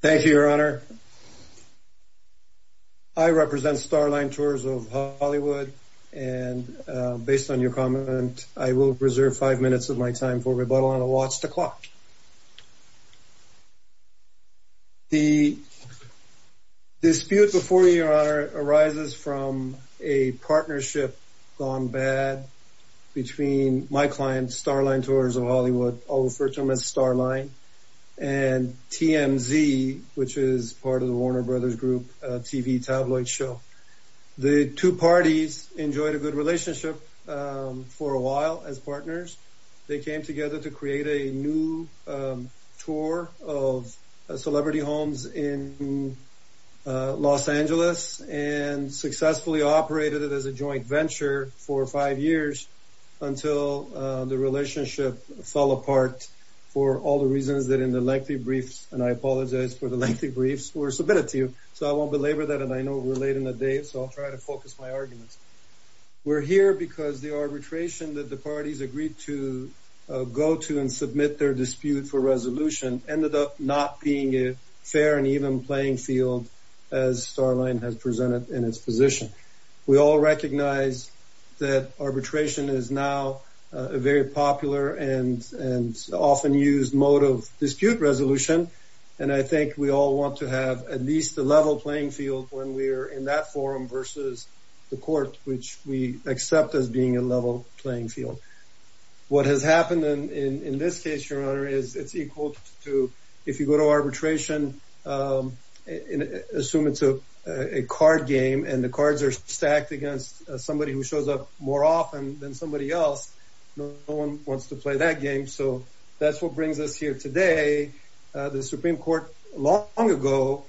Thank you, Your Honor. I represent Starline Tours of Hollywood, and based on your comment, I will reserve five minutes of my time for rebuttal on a watch the clock. The dispute before you, Your Honor, arises from a partnership gone bad between my client, Starline Tours of Hollywood, I'll refer to them as Starline, and TMZ, which is part of the Warner Brothers Group TV tabloid show. The two parties enjoyed a good relationship for a while as partners. They came together to create a new tour of celebrity homes in Los Angeles and successfully operated it as a joint venture for five years until the relationship fell apart for all the reasons that in the lengthy briefs, and I apologize for the lengthy briefs, were submitted to you, so I won't belabor that, and I know we're late in the day, so I'll try to focus my arguments. We're here because the arbitration that the parties agreed to go to and submit their dispute for resolution ended up not being a fair and even playing field as Starline has presented in its position. We all recognize that arbitration is now a very popular and often used mode of dispute resolution, and I think we all want to have at least a level playing field when we're in that forum versus the court, which we accept as being a level playing field. What has happened in this case, Your Honor, is it's equal to if you go to arbitration, assume it's a card game and the cards are stacked against somebody who shows up more often than somebody else, no one wants to play that game, so that's what brings us here today. The Supreme Court long ago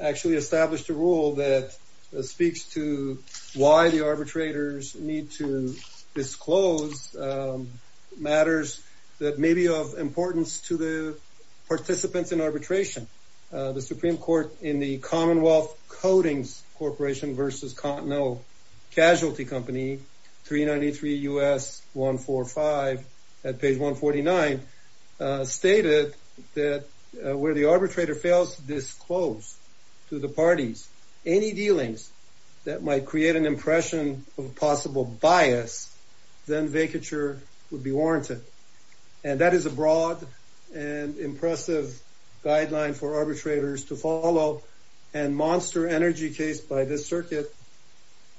actually established a rule that speaks to why the arbitrators need to disclose matters that may be of importance to the participants in arbitration. The Supreme Court in the Commonwealth Codings Corporation versus Continental Casualty Company, 393 U.S. 145 at page 149, stated that where the arbitrator fails to disclose to the parties any dealings that might create an impression of possible bias, then vacature would be warranted. And that is a broad and impressive guideline for arbitrators to follow, and Monster Energy case by this circuit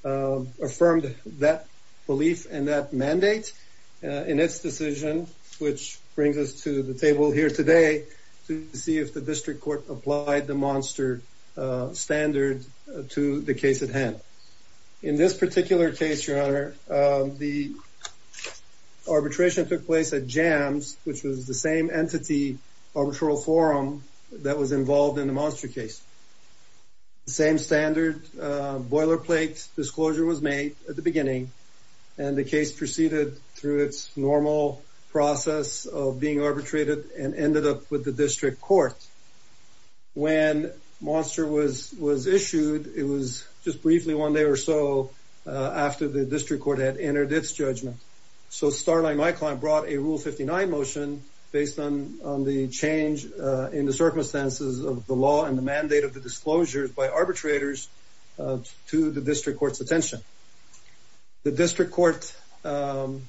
affirmed that belief and that mandate in its decision, which brings us to the table here today to see if the district court applied the Monster standard to the case at hand. In this particular case, Your Honor, the arbitration took place at JAMS, which was the same entity arbitral forum that was involved in the Monster case. Same standard boilerplate disclosure was made at the beginning, and the case proceeded through its normal process of being arbitrated and ended up with the district court. When Monster was issued, it was just briefly one day or so after the district court had entered its judgment. So Starlight and my client brought a Rule 59 motion based on the change in the circumstances of the law and the mandate of the disclosures by arbitrators to the district court's attention. The district court took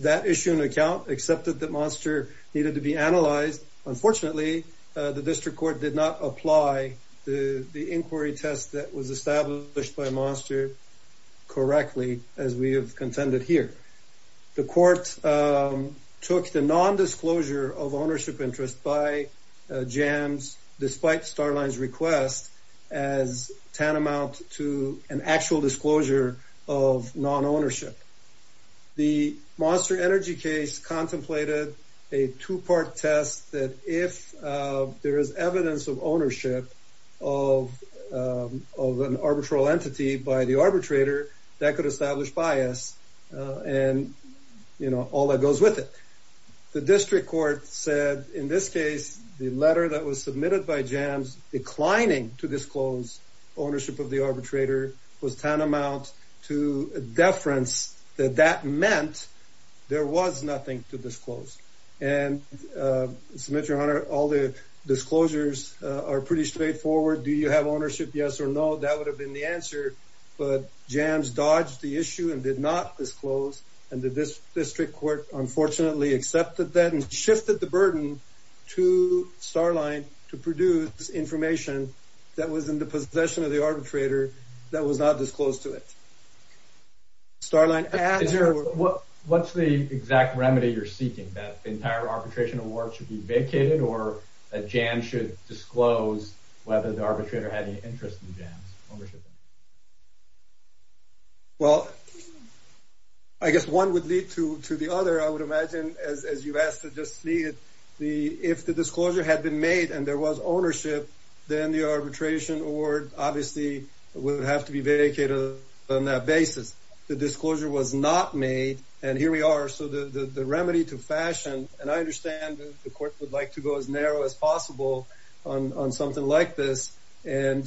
that issue into account, accepted that Monster needed to be analyzed. Unfortunately, the district court did not apply the inquiry test that was established by Monster correctly, as we have contended here. The court took the non-disclosure of ownership interest by JAMS, despite Starlight's request, as tantamount to an actual disclosure of non-ownership. The Monster Energy case contemplated a two-part test that if there is evidence of ownership of an arbitral entity by the arbitrator, that could establish bias and, you know, all that goes with it. The district court said, in this case, the letter that was submitted by JAMS declining to disclose ownership of the arbitrator was tantamount to a deference that that meant there was nothing to disclose. And, Mr. Mitchell, all the disclosures are pretty straightforward. Do you have ownership? Yes or no? That would have been the answer. But JAMS dodged the issue and did not disclose. And the district court, unfortunately, accepted that and shifted the burden to Starlight to produce information that was in the possession of the arbitrator that was not disclosed to it. Starlight asked... What's the exact remedy you're seeking? That entire arbitration award should be vacated or that JAMS should disclose whether the arbitrator had any interest in JAMS ownership? Well, I guess one would lead to the other. I would imagine, as you asked, if the disclosure had been made and there was ownership, then the arbitration award obviously would have to be vacated on that basis. The disclosure was not made. And here we are. So the remedy to fashion, and I understand the court would like to go as narrow as possible on something like this, and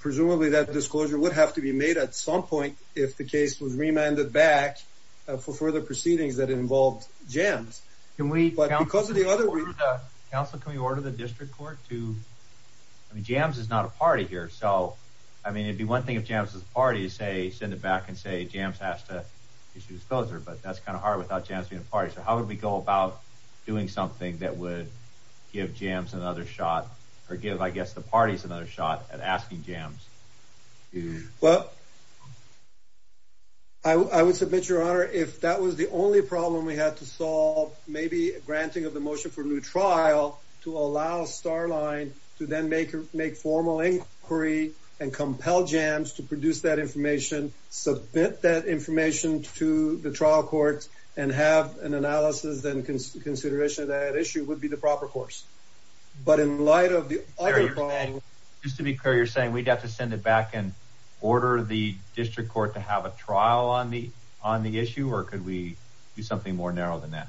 presumably that disclosure would have to be made at some point if the case was remanded back for further proceedings that involved JAMS. But because of the other... Counsel, can we order the district court to... I mean, JAMS is not a party here. So, I mean, it'd be one thing if JAMS was a party to send it back and say, JAMS has to issue a disclosure, but that's kind of hard without JAMS being a party. So how would we go about doing something that would give JAMS another shot, or give, I guess, the parties another shot at asking JAMS to... Well, I would submit, Your Honor, if that was the only problem we had to solve, maybe granting of the motion for new trial to allow Starline to then make formal inquiry and compel JAMS to produce that information, submit that information to the trial court, and have an analysis and consideration of that issue would be the proper course. But in light of the other... Just to be clear, you're saying we'd have to send it back and order the district court to have a trial on the issue, or could we do something more narrow than that?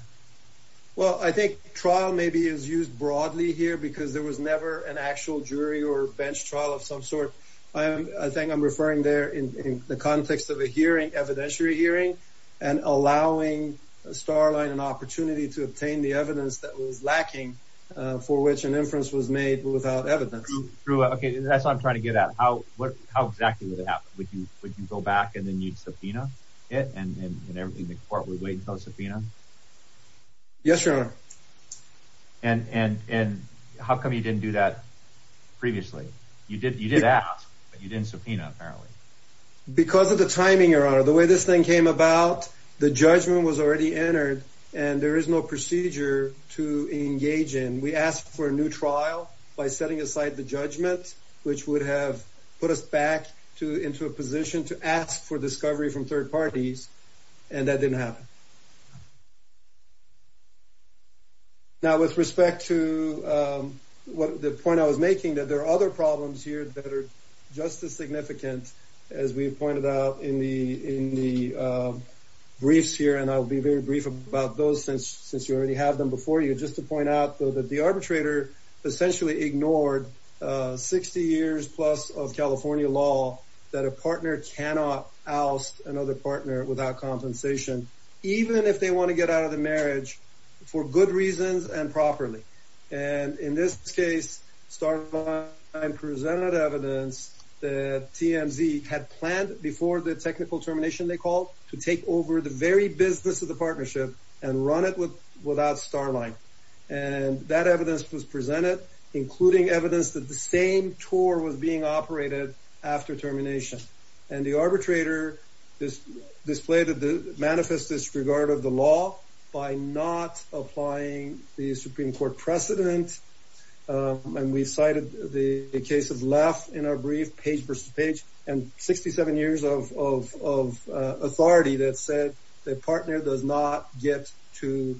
Well, I think trial maybe is used broadly here because there was never an actual jury or bench trial of some sort. I think I'm referring there in the context of a hearing, evidentiary hearing, and allowing Starline an opportunity to obtain the evidence that was lacking for which an inference was made without evidence. Okay, that's what I'm trying to get at. How exactly would it happen? Would you go back, and then you'd subpoena it, and the court would wait until it's subpoenaed? Yes, Your Honor. And how come you didn't do that previously? You did ask, but you didn't subpoena, apparently. Because of the timing, Your Honor. The way this thing came about, the judgment was already entered, and there is no procedure to engage in. We asked for a new trial by setting aside the judgment, which would have put us back into a position to ask for discovery from third parties, and that didn't happen. Now, with respect to the point I was making, that there are other problems here that are just as significant as we pointed out in the briefs here, and I'll be very brief about those since you already have them before you. Just to point out, though, that the arbitrator essentially ignored 60 years plus of California law that a partner cannot oust another partner without compensation, even if they want to get out of the marriage, for good reasons and properly. And in this case, Starline presented evidence that TMZ had planned before the technical termination, they called, to take over the very business of the partnership and run it without Starline. And that evidence was presented, including evidence that the same tour was being operated after termination. And the arbitrator manifested disregard of the law by not applying the Supreme Court precedent, and we cited the case of Laff in our brief, Page v. Page, and 67 years of authority that said the partner does not get to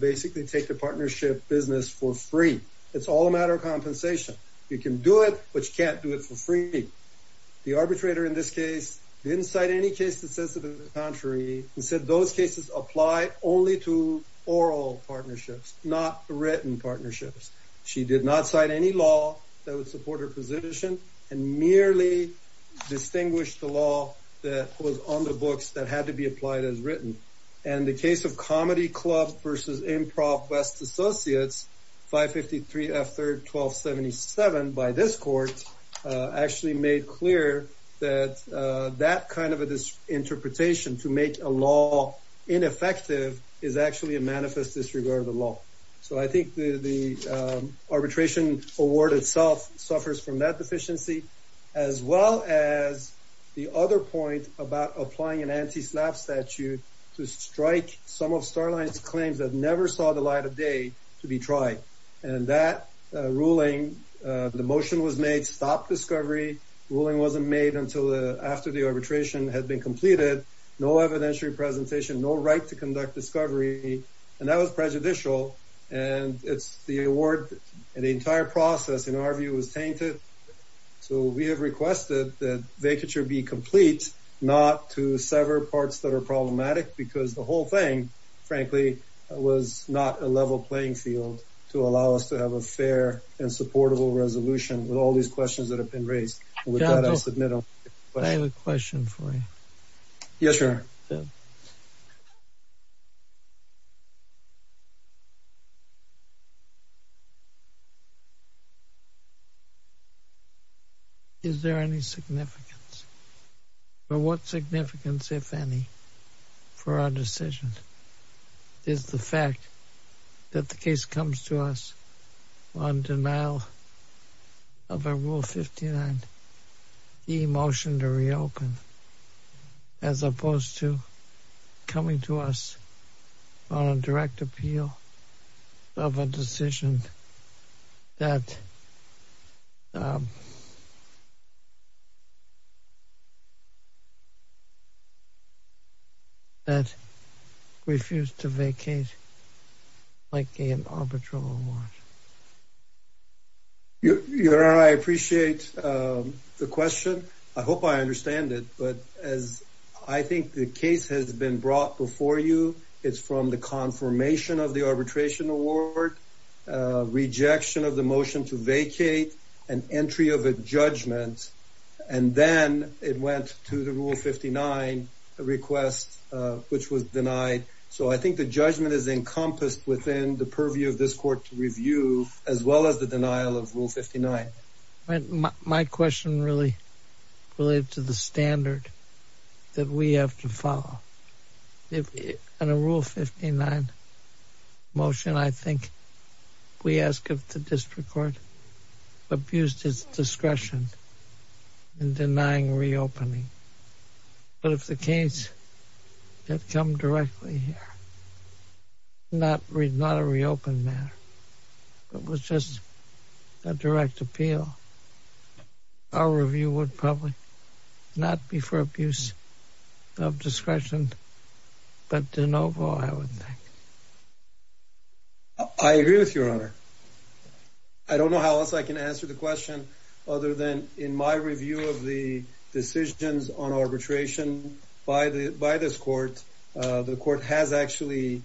basically take the partnership business for free. It's all a matter of compensation. You can do it, but you can't do it for free. The arbitrator in this case didn't cite any case that says the contrary, and said those cases apply only to oral partnerships, not written partnerships. She did not cite any law that would support her position, and merely distinguished the law that was on the books that had to be applied as written. And the case of Comedy Club v. Improv West Associates, 553 F. 3rd, 1277, by this court, actually made clear that that kind of interpretation to make a law ineffective is actually a manifest disregard of the law. So I think the arbitration award itself suffers from that deficiency, as well as the other point about applying an anti-slap statute to strike some of Starline's claims that never saw the light of day to be tried. And that ruling, the motion was made, stopped discovery. The ruling wasn't made until after the arbitration had been completed. No evidentiary presentation, no right to conduct discovery, and that was prejudicial. And it's the award, and the entire process, in our view, was tainted. So we have requested that vacature be complete, not to sever parts that are problematic, because the whole thing, frankly, was not a level playing field to allow us to have a fair and supportable resolution with all these questions that have been raised. And with that, I submit a motion. I have a question for you. Yes, Your Honor. Is there any significance, or what significance, if any, for our decision? Is the fact that the case comes to us on denial of a Rule 59e motion to reopen, as opposed to coming to us on a direct appeal of a decision that refused to vacate like an arbitral award? Your Honor, I appreciate the question. I hope I understand it, but as I think the case has been brought before you, it's from the confirmation of the arbitration award, rejection of the motion to vacate, an entry of a judgment, and then it went to the Rule 59 request, which was denied. So I think the judgment is encompassed within the purview of this court to review, as well as the denial of Rule 59. My question really relates to the standard that we have to follow. In a Rule 59 motion, I think we ask if the district court abused its discretion in denying reopening. But if the case had come directly here, not a reopened matter, but was just a direct appeal, our review would probably not be for abuse of discretion, but de novo, I would think. I don't know how else I can answer the question, other than in my review of the decisions on arbitration by this court, the court has actually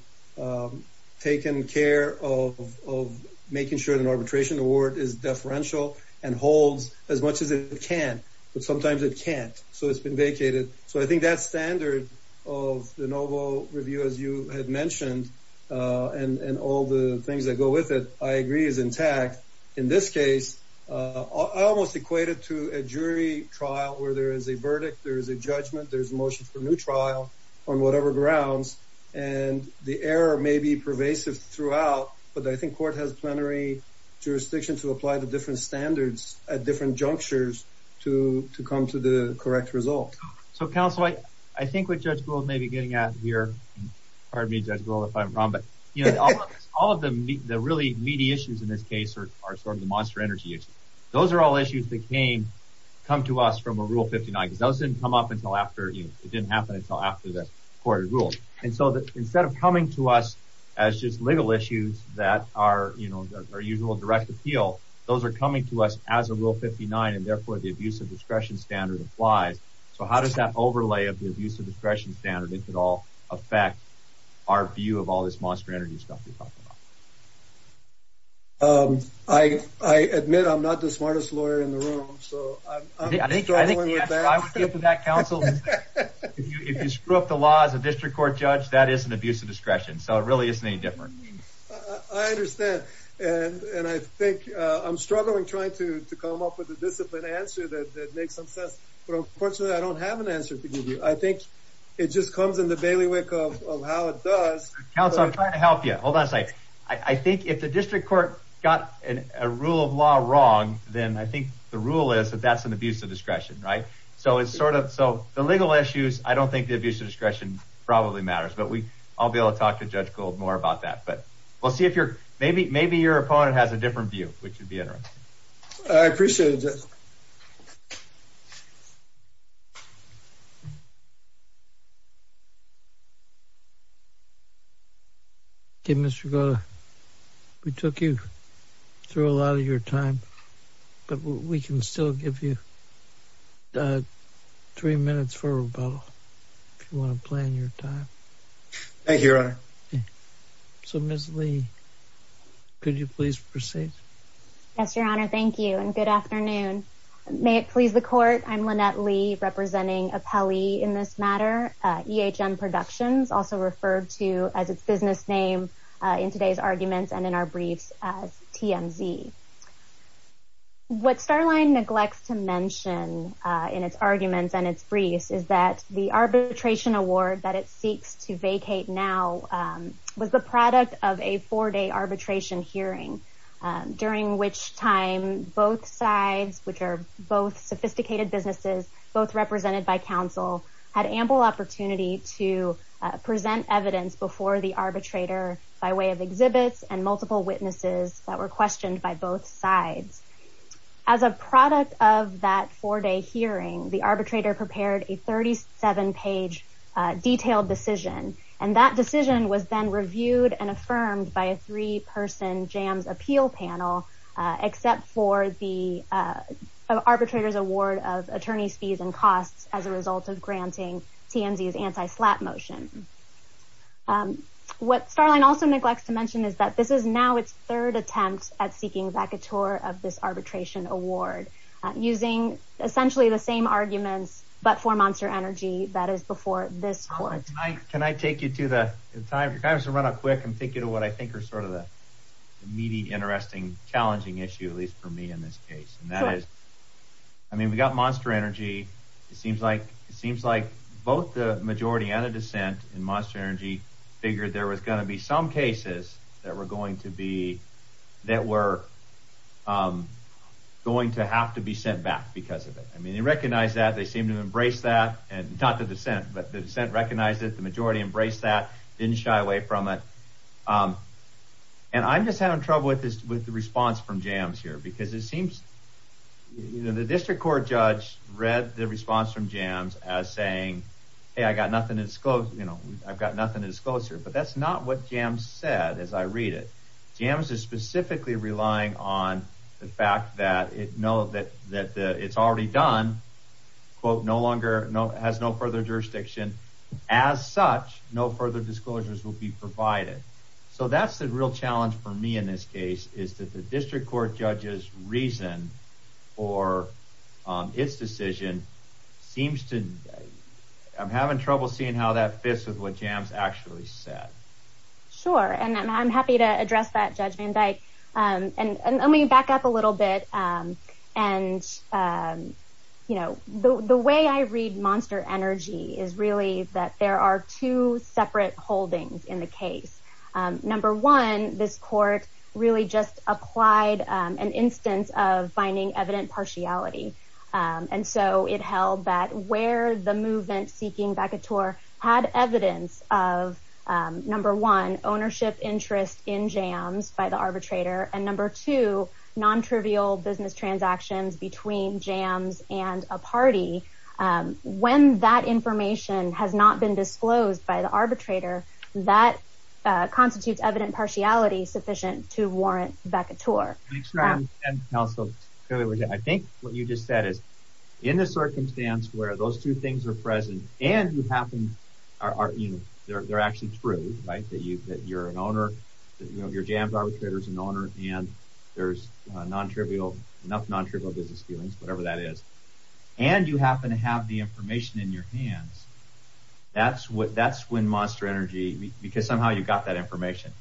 taken care of making sure that an arbitration award is deferential and holds as much as it can. But sometimes it can't, so it's been vacated. So I think that standard of de novo review, as you had mentioned, and all the things that go with it, I agree is intact. In this case, I almost equate it to a jury trial where there is a verdict, there is a judgment, there's a motion for a new trial on whatever grounds, and the error may be pervasive throughout, but I think court has plenary jurisdiction to apply the different standards at different junctures to come to the correct result. So, counsel, I think what Judge Gould may be getting at here, pardon me, Judge Gould, if I'm wrong, but all of the really meaty issues in this case are sort of the monster energy issues. Those are all issues that came, come to us from a Rule 59, because those didn't come up until after, you know, it didn't happen until after the court ruled. And so instead of coming to us as just legal issues that are, you know, our usual direct appeal, those are coming to us as a Rule 59, and therefore the abuse of discretion standard applies. So how does that overlay of the abuse of discretion standard, if at all, affect our view of all this monster energy stuff you're talking about? I admit I'm not the smartest lawyer in the room, so I'm struggling with that. I think if you screw up the law as a district court judge, that is an abuse of discretion. So it really isn't any different. I understand, and I think I'm struggling trying to come up with a disciplined answer that makes some sense, but unfortunately I don't have an answer to give you. I think it just comes in the bailiwick of how it does. Counsel, I'm trying to help you. Hold on a second. I think if the district court got a rule of law wrong, then I think the rule is that that's an abuse of discretion, right? So it's sort of, so the legal issues, I don't think the abuse of discretion probably matters, but I'll be able to talk to Judge Gold more about that. But we'll see if you're, maybe your opponent has a different view, which would be interesting. I appreciate it, Judge. Okay, Mr. Goda, we took you through a lot of your time, but we can still give you three minutes for rebuttal, if you want to plan your time. Thank you, Your Honor. So, Ms. Lee, could you please proceed? Yes, Your Honor, thank you, and good afternoon. May it please the court, I'm Lynette Lee, representing Apelli in this matter, EHM Productions, also referred to as its business name in today's arguments and in our briefs as TMZ. What Starline neglects to mention in its arguments and its briefs is that the arbitration award that it seeks to vacate now was the product of a four-day arbitration hearing, during which time both sides, which are both sophisticated businesses, both represented by counsel, had ample opportunity to present evidence before the arbitrator by way of exhibits and multiple witnesses that were questioned by both sides. As a product of that four-day hearing, the arbitrator prepared a 37-page detailed decision, and that decision was then reviewed and affirmed by a three-person JAMS appeal panel, except for the arbitrator's award of attorney's fees and costs as a result of granting TMZ's anti-slap motion. What Starline also neglects to mention is that this is now its third attempt at seeking vacatur of this arbitration award, using essentially the same arguments but for Monster Energy that is before this court. Can I take you to the time? If you're kind enough to run it quick, and take you to what I think are sort of the meaty, interesting, challenging issue, at least for me in this case. And that is, I mean, we got Monster Energy. It seems like both the majority and the dissent in Monster Energy figured there was going to be some cases that were going to have to be sent back because of it. I mean, they recognized that. They seemed to embrace that. And not the dissent, but the dissent recognized it. The majority embraced that. Didn't shy away from it. And I'm just having trouble with the response from JAMS here, because it seems the district court judge read the response from JAMS as saying, hey, I've got nothing to disclose here. But that's not what JAMS said as I read it. JAMS is specifically relying on the fact that it's already done, quote, no longer has no further jurisdiction. As such, no further disclosures will be provided. So that's the real challenge for me in this case, is that the district court judge's reason for its decision seems to, I'm having trouble seeing how that fits with what JAMS actually said. Sure. And I'm happy to address that, Judge Van Dyke. And let me back up a little bit. And the way I read Monster Energy is really that there are two separate holdings in the case. Number one, this court really just applied an instance of finding evident partiality. And so it held that where the movement seeking vacateur had evidence of, number one, ownership interest in JAMS by the arbitrator, and number two, non-trivial business transactions between JAMS and a party, when that information has not been disclosed by the arbitrator, that constitutes evident partiality sufficient to warrant vacateur. And also, I think what you just said is, in the circumstance where those two things are present, and they're actually true, right, that you're an owner, that your JAMS arbitrator's an owner, and there's enough non-trivial business dealings, whatever that is, and you happen to have the information in your hands, that's when Monster Energy, because somehow you got that information.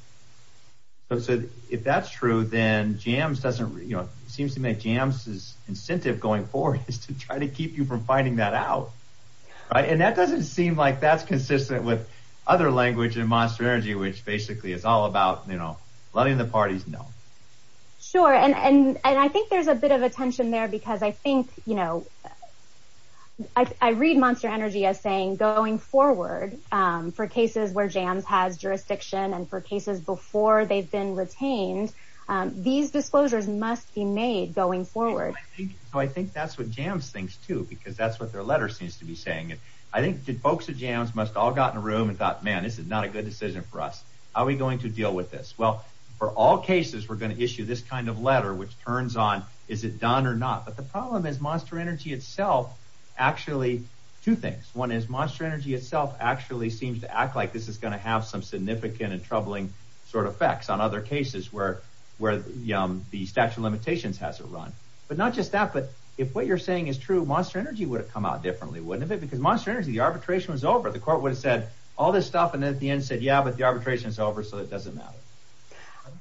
So if that's true, then it seems to me that JAMS' incentive going forward is to try to keep you from finding that out, right? And that doesn't seem like that's consistent with other language in Monster Energy, which basically is all about letting the parties know. Sure, and I think there's a bit of a tension there because I think, you know, I read Monster Energy as saying going forward for cases where JAMS has jurisdiction and for cases before they've been retained, these disclosures must be made going forward. So I think that's what JAMS thinks, too, because that's what their letter seems to be saying. And I think the folks at JAMS must have all got in a room and thought, man, this is not a good decision for us. How are we going to deal with this? Well, for all cases, we're going to issue this kind of letter, which turns on, is it done or not? But the problem is Monster Energy itself, actually, two things. One is Monster Energy itself actually seems to act like this is going to have some significant and troubling sort of effects on other cases where the statute of limitations has it run. But not just that, but if what you're saying is true, Monster Energy would have come out differently, wouldn't it? Because Monster Energy, the arbitration was over. The court would have said all this stuff and then at the end said, yeah, but the arbitration is over, so it doesn't matter.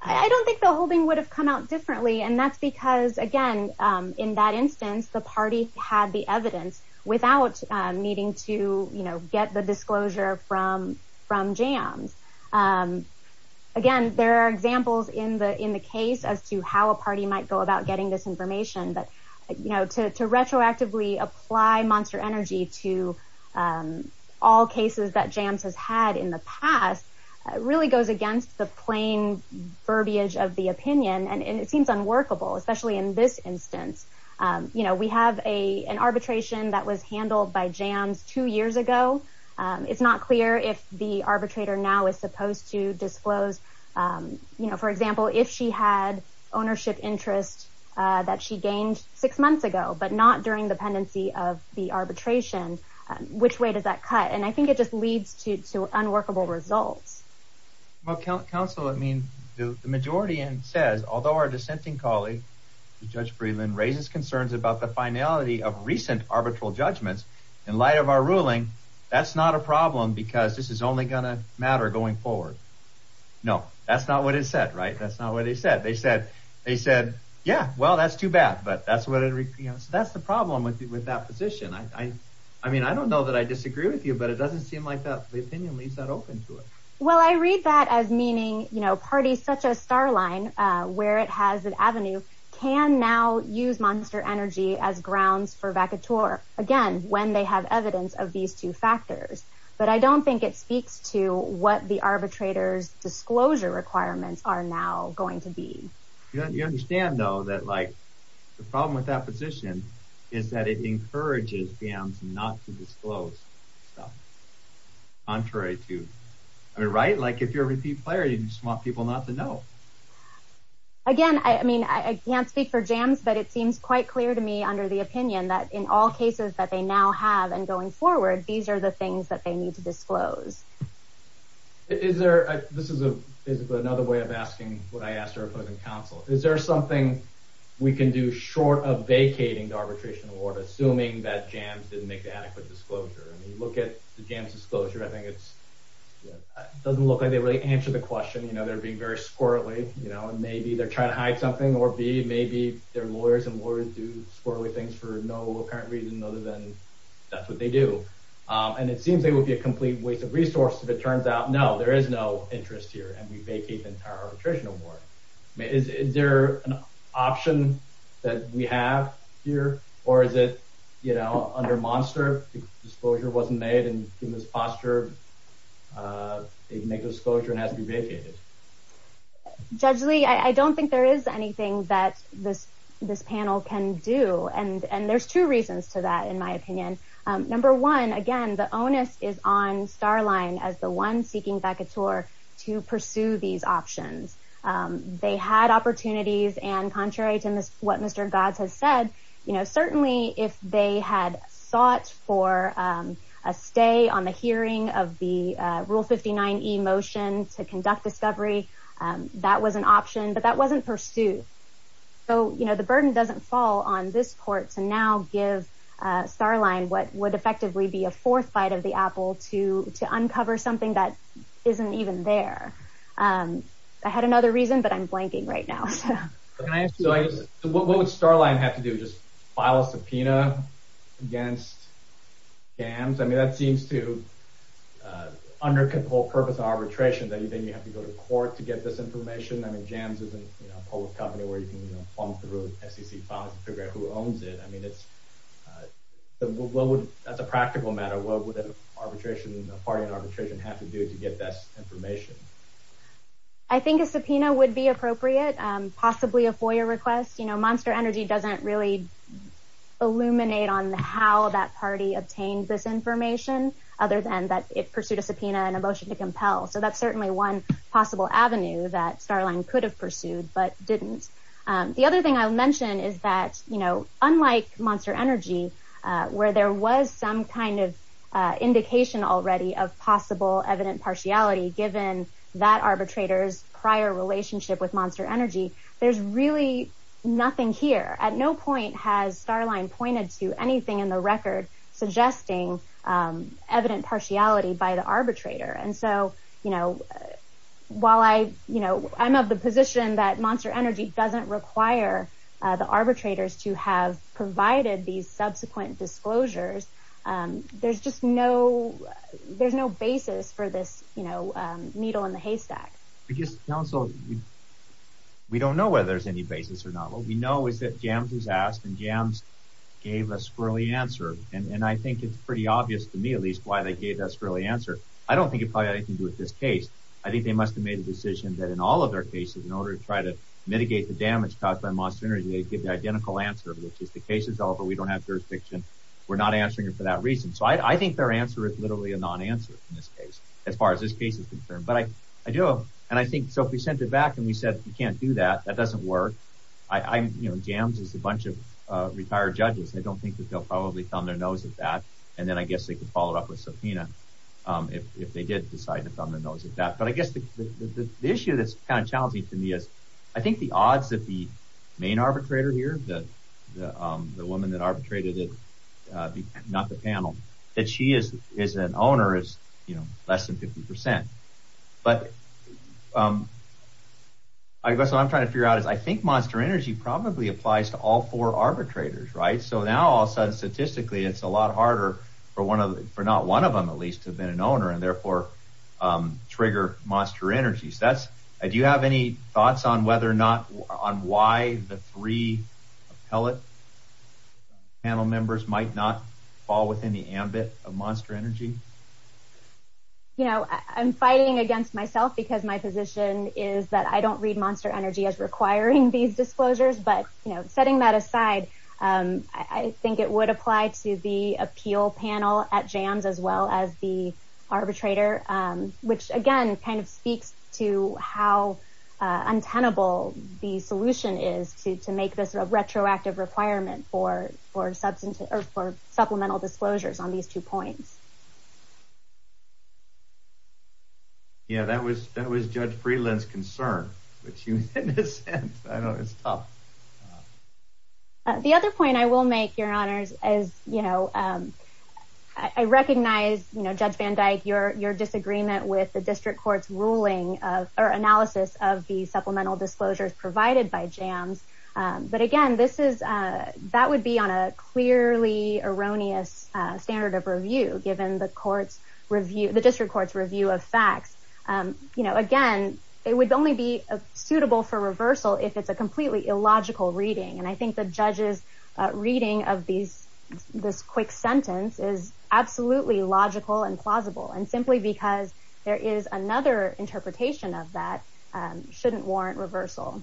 I don't think the holding would have come out differently, and that's because, again, in that instance, the party had the evidence without needing to, you know, get the disclosure from Jams. Again, there are examples in the case as to how a party might go about getting this information. But, you know, to retroactively apply Monster Energy to all cases that Jams has had in the past really goes against the plain verbiage of the opinion, and it seems unworkable, especially in this instance. You know, we have an arbitration that was handled by Jams two years ago. It's not clear if the arbitrator now is supposed to disclose, you know, for example, if she had ownership interest that she gained six months ago, but not during the pendency of the arbitration. Which way does that cut? And I think it just leads to unworkable results. Well, counsel, I mean, the majority in says, although our dissenting colleague, Judge Breland, raises concerns about the finality of recent arbitral judgments in light of our ruling, that's not a problem because this is only going to matter going forward. No, that's not what it said, right? That's not what they said. They said, yeah, well, that's too bad, but that's the problem with that position. I mean, I don't know that I disagree with you, but it doesn't seem like the opinion leaves that open to it. Well, I read that as meaning, you know, parties such as Starline, where it has an avenue, can now use Monster Energy as grounds for vacateur, again, when they have evidence of these two factors. But I don't think it speaks to what the arbitrator's disclosure requirements are now going to be. You understand, though, that like the problem with that position is that it encourages Jams not to disclose stuff, contrary to, I mean, right? Like if you're a repeat player, you just want people not to know. Again, I mean, I can't speak for Jams, but it seems quite clear to me under the opinion that in all cases that they now have and going forward, these are the things that they need to disclose. Is there, this is another way of asking what I asked our opposing counsel, is there something we can do short of vacating the arbitration award, assuming that Jams didn't make the adequate disclosure? I mean, you look at the Jams' disclosure, I think it's, it doesn't look like they really answered the question. You know, they're being very squirrelly, you know, and maybe they're trying to hide something, or B, maybe their lawyers and lawyers do squirrelly things for no apparent reason other than that's what they do. And it seems it would be a complete waste of resource if it turns out, no, there is no interest here and we vacate the entire arbitration award. Is there an option that we have here, or is it, you know, under Monster, disclosure wasn't made and given this posture, they can make a disclosure and it has to be vacated? Judge Lee, I don't think there is anything that this panel can do. And there's two reasons to that, in my opinion. Number one, again, the onus is on Starline as the one seeking vacateur to pursue these options. They had opportunities, and contrary to what Mr. Gatz has said, you know, certainly if they had sought for a stay on the hearing of the Rule 59E motion to conduct discovery, that was an option, but that wasn't pursued. So, you know, the burden doesn't fall on this court to now give Starline what would effectively be a fourth bite of the apple to uncover something that isn't even there. I had another reason, but I'm blanking right now. What would Starline have to do, just file a subpoena against Jams? I mean, that seems to undercut the whole purpose of arbitration, that you think you have to go to court to get this information. I mean, Jams isn't a public company where you can plumb through SEC files and figure out who owns it. I mean, that's a practical matter. What would a party in arbitration have to do to get that information? I think a subpoena would be appropriate, possibly a FOIA request. You know, Monster Energy doesn't really illuminate on how that party obtained this information, other than that it pursued a subpoena and a motion to compel. So that's certainly one possible avenue that Starline could have pursued but didn't. The other thing I'll mention is that, you know, unlike Monster Energy, where there was some kind of indication already of possible evident partiality given that arbitrator's prior relationship with Monster Energy, there's really nothing here. At no point has Starline pointed to anything in the record suggesting evident partiality by the arbitrator. And so, you know, while I'm of the position that Monster Energy doesn't require the arbitrators to have provided these subsequent disclosures, there's just no basis for this needle in the haystack. Because, counsel, we don't know whether there's any basis or not. What we know is that Jams was asked, and Jams gave a squirrelly answer. And I think it's pretty obvious, to me at least, why they gave that squirrelly answer. I don't think it probably had anything to do with this case. I think they must have made a decision that in all of their cases, in order to try to mitigate the damage caused by Monster Energy, they'd give the identical answer, which is the case is over, we don't have jurisdiction, we're not answering it for that reason. So I think their answer is literally a non-answer in this case, as far as this case is concerned. But I do, and I think, so if we sent it back and we said we can't do that, that doesn't work. I, you know, Jams is a bunch of retired judges. I don't think that they'll probably thumb their nose at that. And then I guess they could follow it up with Sofina if they did decide to thumb their nose at that. But I guess the issue that's kind of challenging to me is I think the odds that the main arbitrator here, the woman that arbitrated it, not the panel, that she is an owner is, you know, less than 50%. But I guess what I'm trying to figure out is I think Monster Energy probably applies to all four arbitrators, right? So now all of a sudden, statistically, it's a lot harder for not one of them at least to have been an owner and therefore trigger Monster Energy. So that's, do you have any thoughts on whether or not, on why the three appellate panel members might not fall within the ambit of Monster Energy? You know, I'm fighting against myself because my position is that I don't read Monster Energy as requiring these disclosures. But, you know, setting that aside, I think it would apply to the appeal panel at JAMS as well as the arbitrator, which, again, kind of speaks to how untenable the solution is to make this a retroactive requirement for supplemental disclosures on these two points. Yeah, that was Judge Freeland's concern, which in a sense, I know it's tough. The other point I will make, Your Honors, is, you know, I recognize, you know, Judge Van Dyke, your disagreement with the district court's ruling or analysis of the supplemental disclosures provided by JAMS. But, again, this is, that would be on a clearly erroneous standard of review given the court's review, the district court's review of facts. You know, again, it would only be suitable for reversal if it's a completely illogical reading. And I think the judge's reading of these, this quick sentence is absolutely logical and plausible. And simply because there is another interpretation of that shouldn't warrant reversal.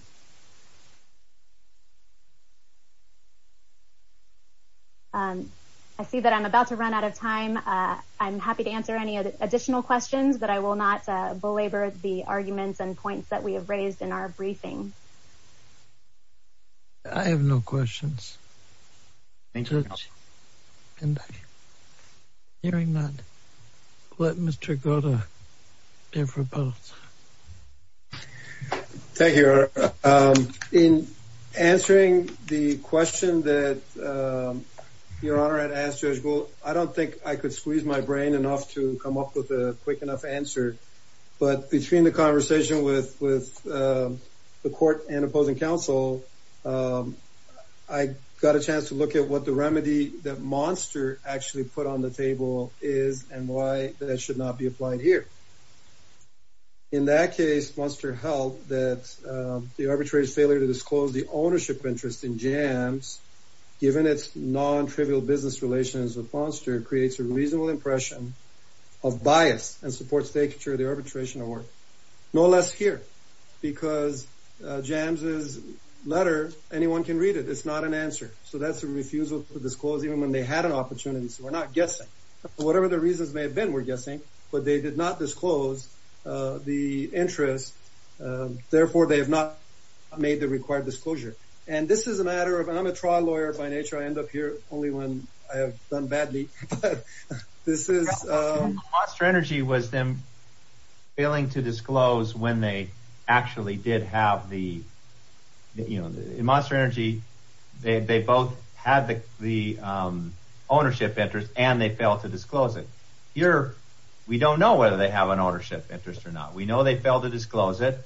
I see that I'm about to run out of time. I'm happy to answer any additional questions, but I will not belabor the arguments and points that we have raised in our briefing. I have no questions. Thank you, Your Honor. Judge Van Dyke, hearing none, let Mr. Goddard hear for both. Thank you, Your Honor. In answering the question that Your Honor had asked Judge Gould, I don't think I could squeeze my brain enough to come up with a quick enough answer. But between the conversation with the court and opposing counsel, I got a chance to look at what the remedy that Monster actually put on the table is and why that should not be applied here. In that case, Monster held that the arbitrator's failure to disclose the ownership interest in Jams, given its non-trivial business relations with Monster, creates a reasonable impression of bias and supports the architecture of the arbitration award. No less here, because Jams' letter, anyone can read it. It's not an answer. So that's a refusal to disclose even when they had an opportunity. So we're not guessing. Whatever the reasons may have been, we're guessing. But they did not disclose the interest. Therefore, they have not made the required disclosure. And this is a matter of – and I'm a trial lawyer by nature. I end up here only when I have done badly. This is – Monster Energy was then failing to disclose when they actually did have the – Here, we don't know whether they have an ownership interest or not. We know they failed to disclose it.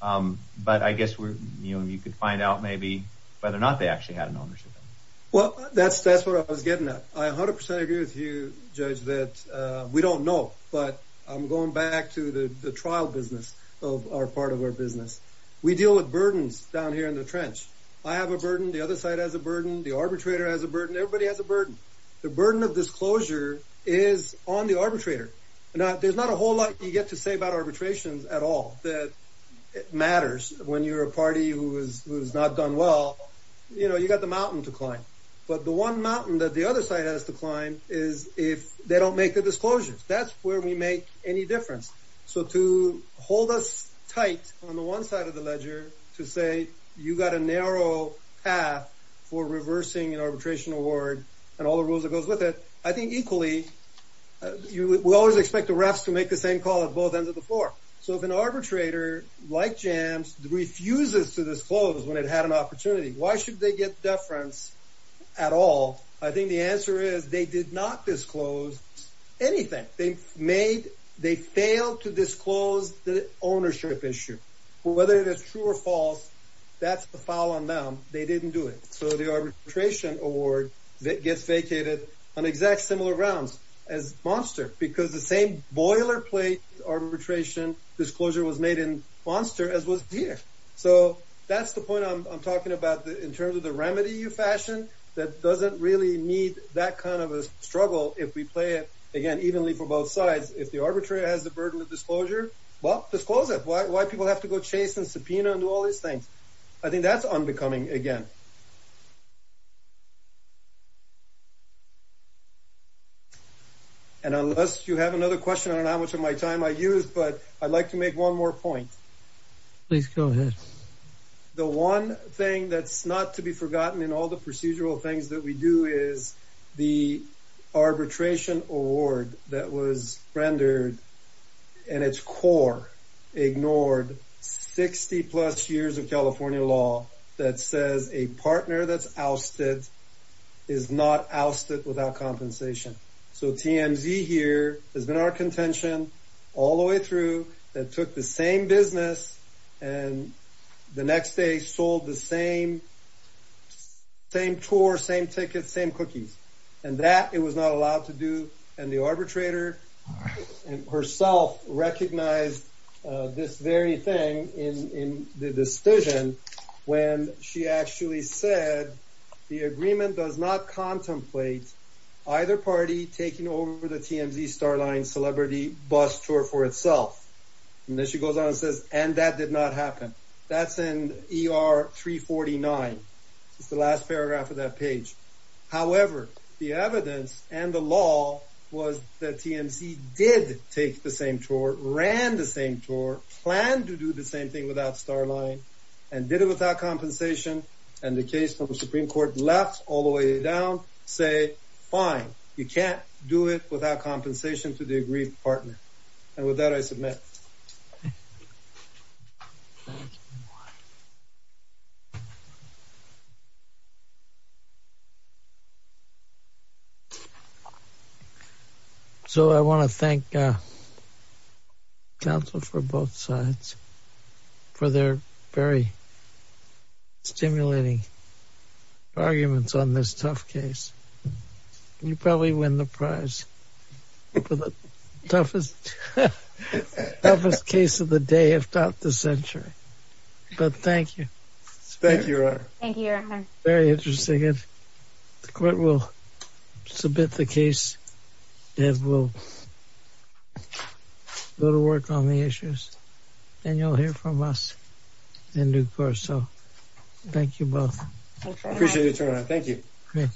But I guess you could find out maybe whether or not they actually had an ownership interest. Well, that's what I was getting at. I 100% agree with you, Judge, that we don't know. But I'm going back to the trial business of our part of our business. We deal with burdens down here in the trench. I have a burden. The other side has a burden. The arbitrator has a burden. Everybody has a burden. The burden of disclosure is on the arbitrator. Now, there's not a whole lot you get to say about arbitrations at all that matters when you're a party who has not done well. You know, you've got the mountain to climb. But the one mountain that the other side has to climb is if they don't make the disclosures. That's where we make any difference. So to hold us tight on the one side of the ledger to say you've got a narrow path for reversing an arbitration award and all the rules that goes with it, I think equally we always expect the refs to make the same call at both ends of the floor. So if an arbitrator, like Jams, refuses to disclose when it had an opportunity, why should they get deference at all? I think the answer is they did not disclose anything. They failed to disclose the ownership issue. Whether it is true or false, that's a foul on them. They didn't do it. So the arbitration award gets vacated on exact similar rounds as Monster because the same boilerplate arbitration disclosure was made in Monster as was here. So that's the point I'm talking about in terms of the remedy you fashioned that doesn't really need that kind of a struggle if we play it, again, evenly for both sides. If the arbitrator has the burden of disclosure, well, disclose it. Why do people have to go chase and subpoena and do all these things? I think that's unbecoming again. And unless you have another question, I don't know how much of my time I used, but I'd like to make one more point. Please go ahead. The one thing that's not to be forgotten in all the procedural things that we do is the arbitration award that was rendered and its core ignored 60-plus years of California law that says a partner that's ousted is not ousted without compensation. So TMZ here has been our contention all the way through and took the same business and the next day sold the same tour, same tickets, same cookies. And that it was not allowed to do and the arbitrator herself recognized this very thing in the decision when she actually said the agreement does not contemplate either party taking over the TMZ Starline celebrity bus tour for itself. And then she goes on and says, and that did not happen. That's in ER 349. It's the last paragraph of that page. However, the evidence and the law was that TMZ did take the same tour, ran the same tour, planned to do the same thing without Starline and did it without compensation. And the case from the Supreme Court left all the way down, say, fine, you can't do it without compensation to the agreed partner. And with that, I submit. So I want to thank counsel for both sides for their very stimulating arguments on this tough case. You probably win the prize for the toughest case of the day if not the century. But thank you. Thank you. Very interesting. And the court will submit the case and we'll go to work on the issues and you'll hear from us in due course. So thank you both. Appreciate it. Thank you.